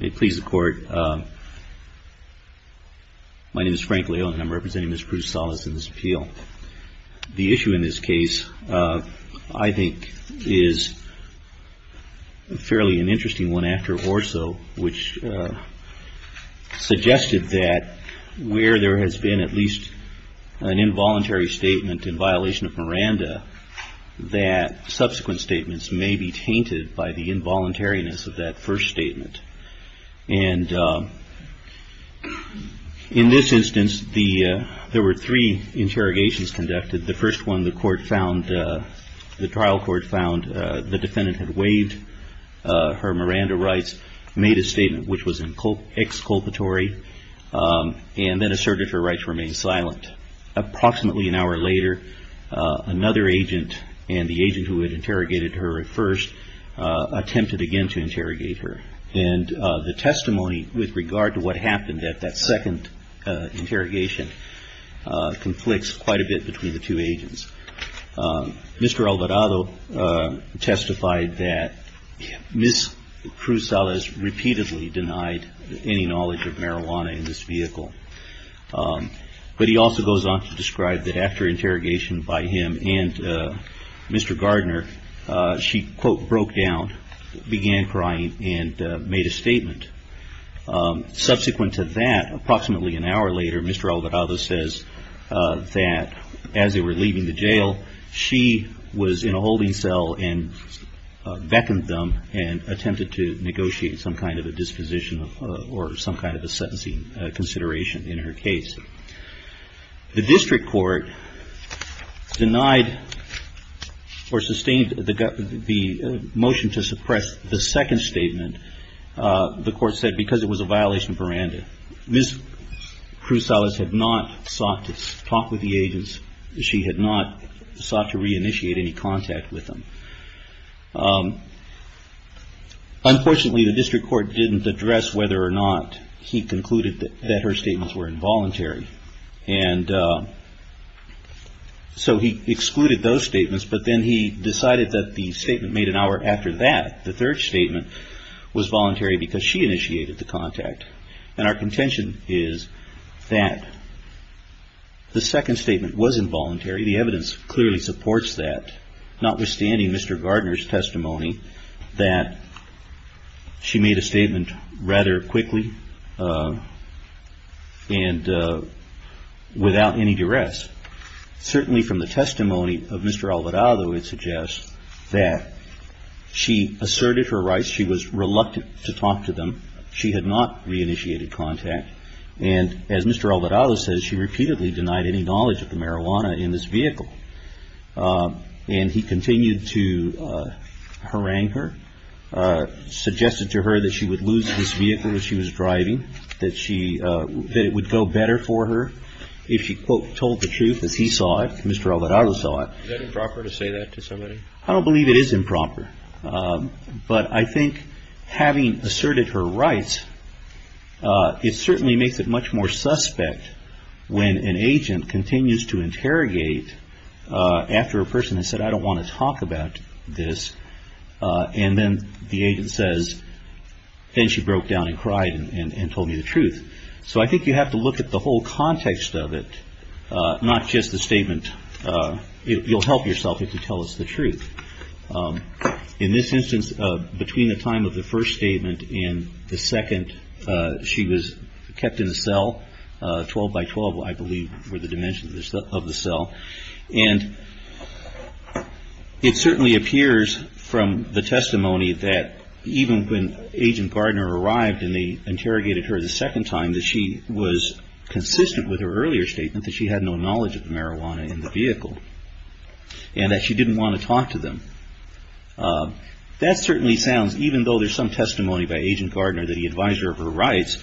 May it please the Court, my name is Frank Leone and I'm representing Ms. Cruz-Salas in this appeal. The issue in this case, I think, is fairly an interesting one after Orso, which suggested that where there has been at least an involuntary statement in violation of Miranda, that subsequent statements may be tainted by the involuntariness of that first statement. And in this instance, there were three interrogations conducted. The first one, the trial court found the defendant had waived her Miranda rights, made a statement which was exculpatory, and then asserted her rights remained silent. Approximately an hour later, another agent, and the agent who had interrogated her at first, attempted again to interrogate her. And the testimony with regard to what happened at that second interrogation conflicts quite a bit between the two agents. Mr. Alvarado testified that Ms. Cruz-Salas repeatedly denied any knowledge of marijuana in this vehicle. But he also goes on to describe that after interrogation by him and Mr. Gardner, she, quote, broke down, began crying, and made a statement. Subsequent to that, approximately an hour later, Mr. Alvarado says that as they were leaving the jail, she was in a holding cell and beckoned them and attempted to negotiate some kind of a disposition or some kind of a sentencing consideration in her case. The district court denied or sustained the motion to suppress the second statement, the court said, because it was a violation of Miranda. Ms. Cruz-Salas had not sought to talk with the agents. She had not sought to reinitiate any contact with them. Unfortunately, the district court didn't address whether or not he concluded that her statements were involuntary. And so he excluded those statements. But then he decided that the statement made an hour after that, the third statement was voluntary because she initiated the contact. And our contention is that the second statement was involuntary. The evidence clearly supports that, notwithstanding Mr. Gardner's testimony that she made a statement rather quickly and without any duress. Certainly from the testimony of Mr. Alvarado, it suggests that she asserted her rights. She was reluctant to talk to them. She had not reinitiated contact. And as Mr. Alvarado says, she repeatedly denied any knowledge of the marijuana in this vehicle. And he continued to harangue her, suggested to her that she would lose this vehicle as she was driving, that it would go better for her if she, quote, told the truth as he saw it, Mr. Alvarado saw it. Is that improper to say that to somebody? I don't believe it is improper. But I think having asserted her rights, it certainly makes it much more suspect when an agent continues to interrogate after a person has said, I don't want to talk about this. And then the agent says, then she broke down and cried and told me the truth. So I think you have to look at the whole context of it, not just the statement. You'll help yourself if you tell us the truth. In this instance, between the time of the first statement and the second, she was kept in a cell, 12 by 12, I believe, were the dimensions of the cell. And it certainly appears from the testimony that even when Agent Gardner arrived and they interrogated her the second time that she was consistent with her earlier statement that she had no knowledge of the marijuana in the vehicle and that she didn't want to talk to them. That certainly sounds, even though there's some testimony by Agent Gardner that he advised her of her rights,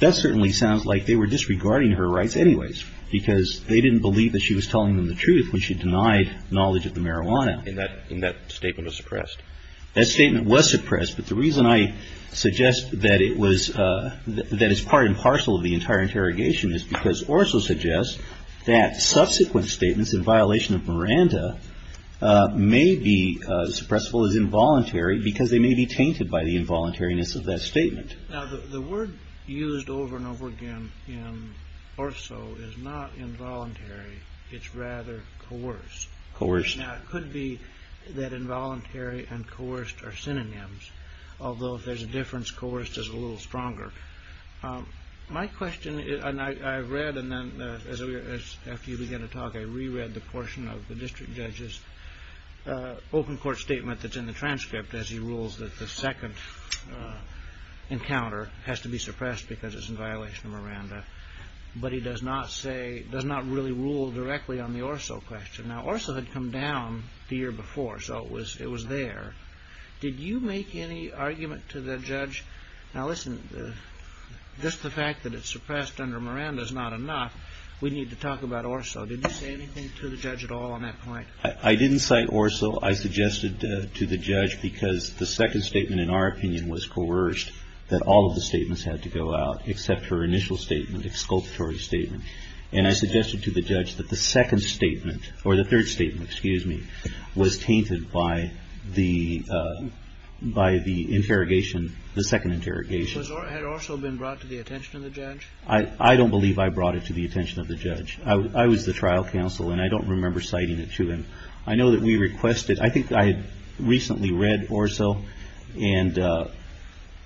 that certainly sounds like they were disregarding her rights anyways because they didn't believe that she was telling them the truth when she denied knowledge of the marijuana. And that statement was suppressed. That statement was suppressed. But the reason I suggest that it was that is part and parcel of the entire interrogation is because Orso suggests that subsequent statements in violation of Miranda may be suppressed as involuntary because they may be tainted by the involuntariness of that statement. The word used over and over again in Orso is not involuntary. It's rather coerced. It could be that involuntary and coerced are synonyms. Although if there's a difference, coerced is a little stronger. My question is, and I read and then after you began to talk I reread the portion of the district judge's open court statement that's in the transcript as he rules that the second encounter has to be suppressed because it's in violation of Miranda. But he does not say, does not really rule directly on the Orso question. Now Orso had come down the year before, so it was there. Did you make any argument to the judge? Now listen, just the fact that it's suppressed under Miranda is not enough. We need to talk about Orso. Did you say anything to the judge at all on that point? I didn't cite Orso. I suggested to the judge because the second statement in our opinion was coerced, that all of the statements had to go out except her initial statement, exculpatory statement. And I suggested to the judge that the second statement or the third statement, excuse me, was tainted by the interrogation, the second interrogation. Had Orso been brought to the attention of the judge? I don't believe I brought it to the attention of the judge. I was the trial counsel and I don't remember citing it to him. I know that we requested, I think I had recently read Orso and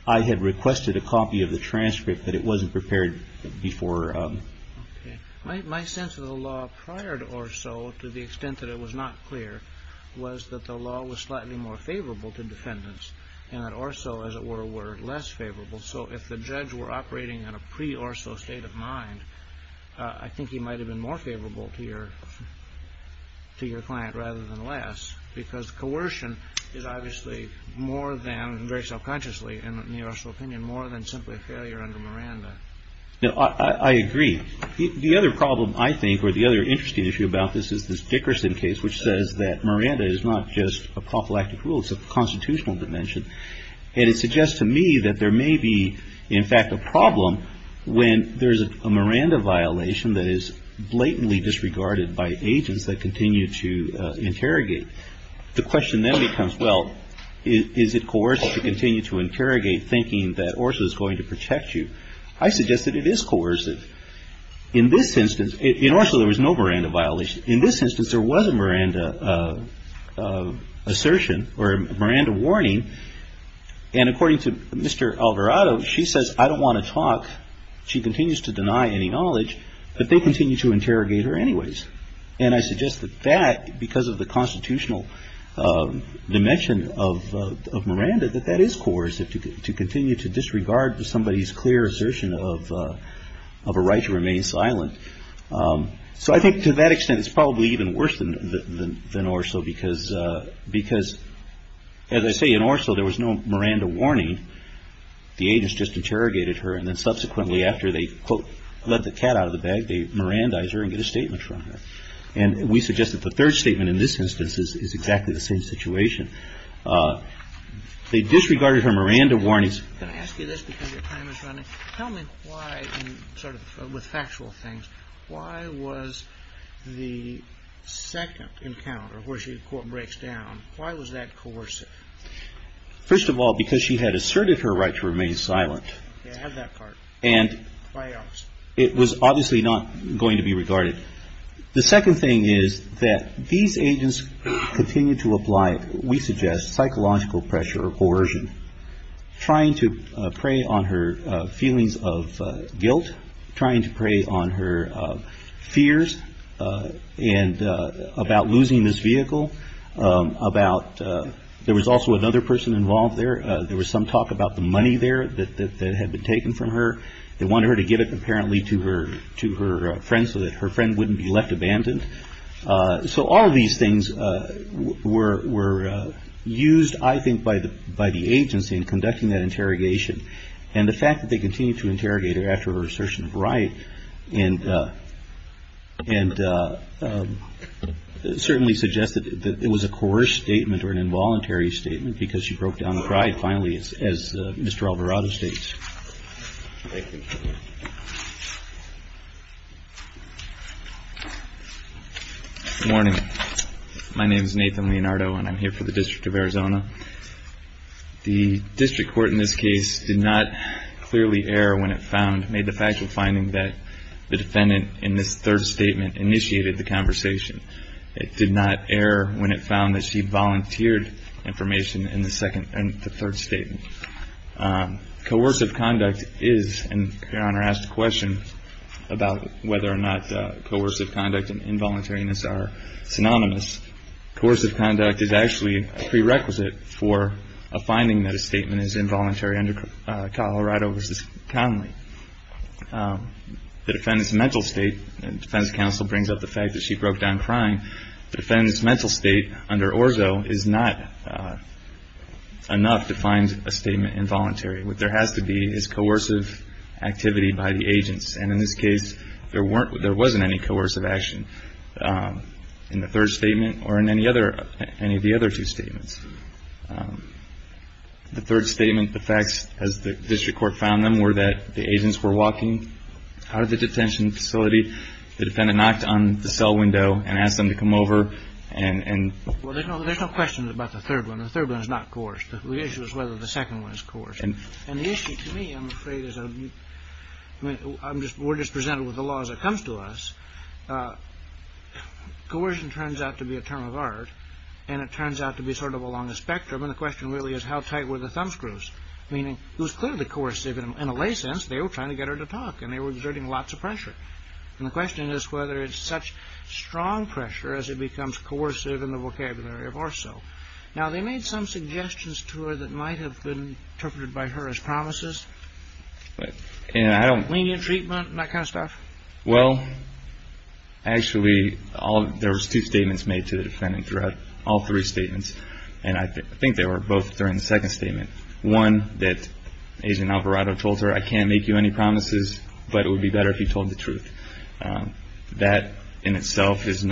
I had requested a copy of the transcript but it wasn't prepared before. Okay. My sense of the law prior to Orso to the extent that it was not clear was that the law was slightly more favorable to defendants and that Orso, as it were, were less favorable. So if the judge were operating in a pre-Orso state of mind, I think he might have been more favorable to your client rather than less because coercion is obviously more than, very self-consciously in the Orso opinion, more than simply a failure under Miranda. I agree. The other problem I think or the other interesting issue about this is this Dickerson case which says that Miranda is not just a prophylactic rule. It's a constitutional dimension. And it suggests to me that there may be, in fact, a problem when there's a Miranda violation that is blatantly disregarded by agents that continue to interrogate. The question then becomes, well, is it coercive to continue to interrogate thinking that Orso is going to protect you? I suggest that it is coercive. In this instance, in Orso there was no Miranda violation. In this instance, there was a Miranda assertion or a Miranda warning. And according to Mr. Alvarado, she says, I don't want to talk. She continues to deny any knowledge. But they continue to interrogate her anyways. And I suggest that that, because of the constitutional dimension of Miranda, that that is coercive to continue to disregard somebody's clear assertion of a right to remain silent. So I think to that extent it's probably even worse than Orso because, as I say, in Orso there was no Miranda warning. The agents just interrogated her. And then subsequently after they, quote, let the cat out of the bag, they Mirandized her and get a statement from her. And we suggest that the third statement in this instance is exactly the same situation. They disregarded her Miranda warnings. Can I ask you this because your time is running? Tell me why, sort of with factual things, why was the second encounter where she, quote, breaks down, why was that coercive? First of all, because she had asserted her right to remain silent. Yeah, I have that part. And. Why else? It was obviously not going to be regarded. The second thing is that these agents continue to apply, we suggest, psychological pressure or coercion, trying to prey on her feelings of guilt, trying to prey on her fears and about losing this vehicle, about there was also another person involved there. There was some talk about the money there that had been taken from her. They wanted her to give it apparently to her to her friends so that her friend wouldn't be left abandoned. So all of these things were were used, I think, by the by the agency in conducting that interrogation. And the fact that they continue to interrogate her after her assertion of right and. And certainly suggested that it was a coerced statement or an involuntary statement because she broke down and cried. Finally, as Mr. Alvarado states. Morning. My name is Nathan Leonardo and I'm here for the District of Arizona. The district court in this case did not clearly err when it found made the factual finding that the defendant in this third statement initiated the conversation. It did not err when it found that she volunteered information in the second and the third statement. Coercive conduct is and asked a question about whether or not coercive conduct and involuntariness are synonymous. Coercive conduct is actually a prerequisite for a finding that a statement is involuntary. Under Colorado versus Conley, the defendant's mental state and defense counsel brings up the fact that she broke down crying. The defendant's mental state under Orzo is not enough to find a statement involuntary. What there has to be is coercive activity by the agents. And in this case, there weren't there wasn't any coercive action in the third statement or in any other any of the other two statements. The third statement, the facts, as the district court found them, were that the agents were walking out of the detention facility. The defendant knocked on the cell window and asked them to come over and there's no question about the third one. The third one is not coerced. The issue is whether the second one is coerced. And the issue to me, I'm afraid, is I'm just we're just presented with the laws that comes to us. Coercion turns out to be a term of art and it turns out to be sort of along the spectrum. And the question really is how tight were the thumbscrews? Meaning it was clearly coercive in a way sense. They were trying to get her to talk and they were exerting lots of pressure. And the question is whether it's such strong pressure as it becomes coercive in the vocabulary of Orzo. Now, they made some suggestions to her that might have been interpreted by her as promises. And I don't. Lenient treatment and that kind of stuff. Well, actually, there was two statements made to the defendant throughout all three statements. And I think they were both during the second statement. One that Agent Alvarado told her, I can't make you any promises, but it would be better if you told the truth. That in itself has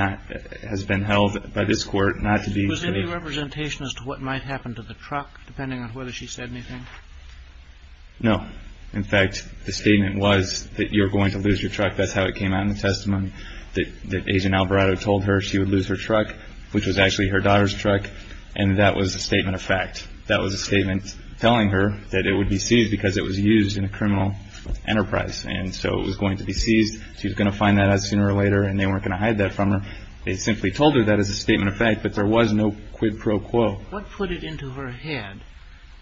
been held by this court not to be. Was there any representation as to what might happen to the truck depending on whether she said anything? No. In fact, the statement was that you're going to lose your truck. That's how it came out in the testimony that Agent Alvarado told her she would lose her truck, which was actually her daughter's truck. And that was a statement of fact. That was a statement telling her that it would be seized because it was used in a criminal enterprise. And so it was going to be seized. She was going to find that out sooner or later and they weren't going to hide that from her. They simply told her that as a statement of fact, but there was no quid pro quo. What put it into her head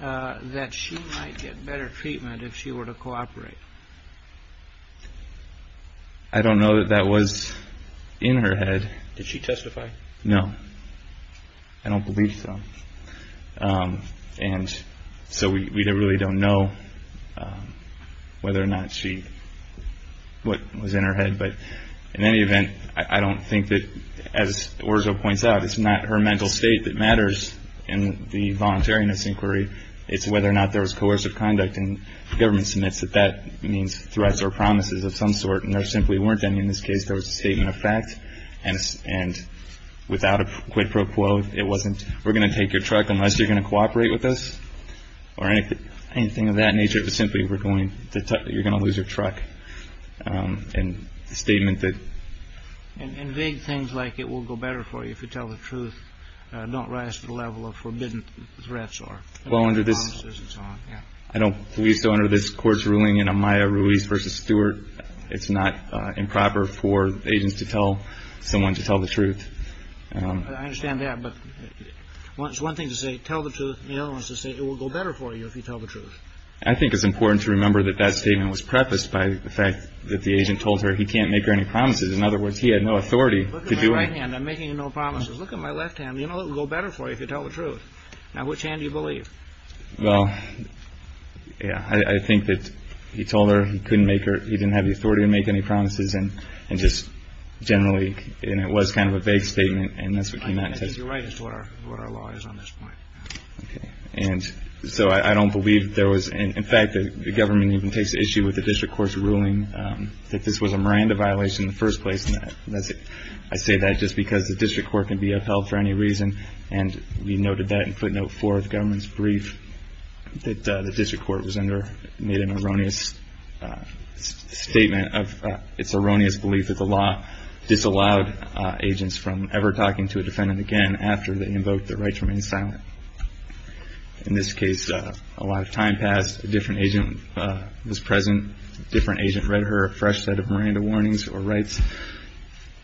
that she might get better treatment if she were to cooperate? I don't know that that was in her head. Did she testify? No. I don't believe so. And so we really don't know whether or not she, what was in her head. But in any event, I don't think that, as Orzo points out, it's not her mental state that matters in the voluntariness inquiry. It's whether or not there was coercive conduct. And the government submits that that means threats or promises of some sort. And there simply weren't any in this case. There was a statement of fact. And without a quid pro quo, it wasn't we're going to take your truck unless you're going to cooperate with us or anything of that nature. It was simply you're going to lose your truck. And the statement that. And vague things like it will go better for you if you tell the truth. Don't rise to the level of forbidden threats or. Well, under this. I don't believe so. Under this court's ruling in a Maya Ruiz versus Stewart. It's not improper for agents to tell someone to tell the truth. I understand that. But it's one thing to say tell the truth. It will go better for you if you tell the truth. I think it's important to remember that that statement was prefaced by the fact that the agent told her he can't make her any promises. In other words, he had no authority to do it. And I'm making no promises. Look at my left hand. You know, it will go better for you if you tell the truth. Now, which hand do you believe? Well, yeah, I think that he told her he couldn't make her. He didn't have the authority to make any promises. And just generally. And it was kind of a vague statement. And that's what came out. I think you're right. That's what our what our law is on this point. And so I don't believe there was. In fact, the government even takes issue with the district court's ruling that this was a Miranda violation in the first place. And I say that just because the district court can be upheld for any reason. And we noted that in footnote for the government's brief that the district court was under made an erroneous statement of its erroneous belief that the law disallowed agents from ever talking to a defendant again after they invoked the right to remain silent. In this case, a lot of time passed. A different agent was present. Different agent read her a fresh set of Miranda warnings or rights.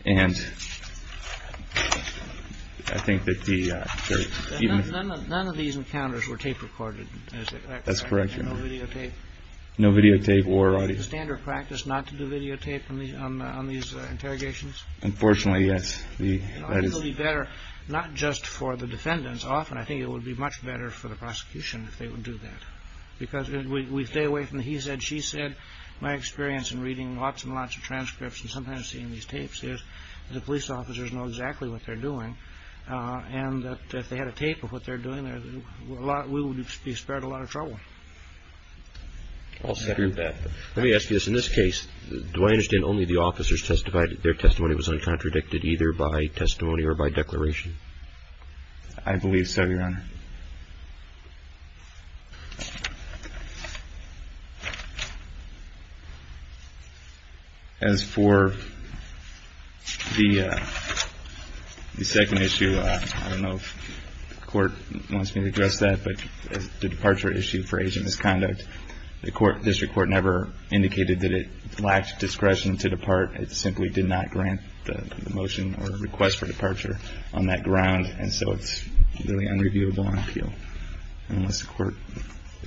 And I think that the. None of these encounters were tape recorded. That's correct. No videotape or standard practice not to videotape me on these interrogations. Unfortunately, yes. That is better, not just for the defendants. Often I think it would be much better for the prosecution if they would do that because we stay away from. He said, she said, my experience in reading lots and lots of transcripts and sometimes seeing these tapes is the police officers know exactly what they're doing. And if they had a tape of what they're doing, there's a lot. We would be spared a lot of trouble. Let me ask you this. In this case, do I understand only the officers testified that their testimony was uncontradicted either by testimony or by declaration? I believe so, Your Honor. As for the second issue, I don't know if the court wants me to address that. But the departure issue for agent misconduct, the court district court never indicated that it lacked discretion to depart. It simply did not grant the motion or request for departure on that ground. And so it's really unreviewable on appeal unless the court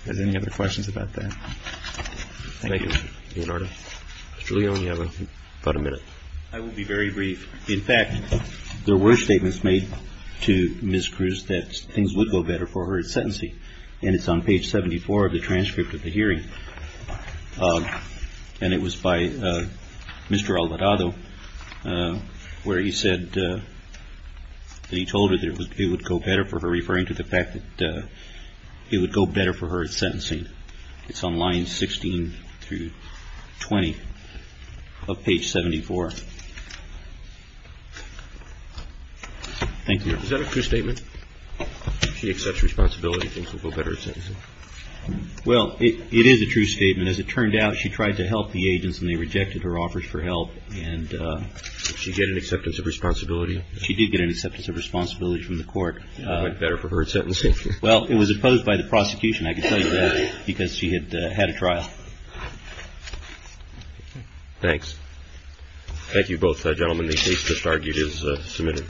has any other questions about that. Thank you, Your Honor. Mr. Leo, you have about a minute. I will be very brief. In fact, there were statements made to Ms. Cruz that things would go better for her at sentencing, and it's on page 74 of the transcript of the hearing. And it was by Mr. Alvarado where he said that he told her that it would go better for her, referring to the fact that it would go better for her at sentencing. It's on lines 16 through 20 of page 74. Thank you. Is that a true statement? She accepts responsibility and thinks it would go better at sentencing? Well, it is a true statement. As it turned out, she tried to help the agents, and they rejected her offers for help. And she did get an acceptance of responsibility? She did get an acceptance of responsibility from the court. It went better for her at sentencing? Well, it was opposed by the prosecution, I can tell you that, because she had had a trial. Thanks. Thank you, both gentlemen. The case just argued is submitted.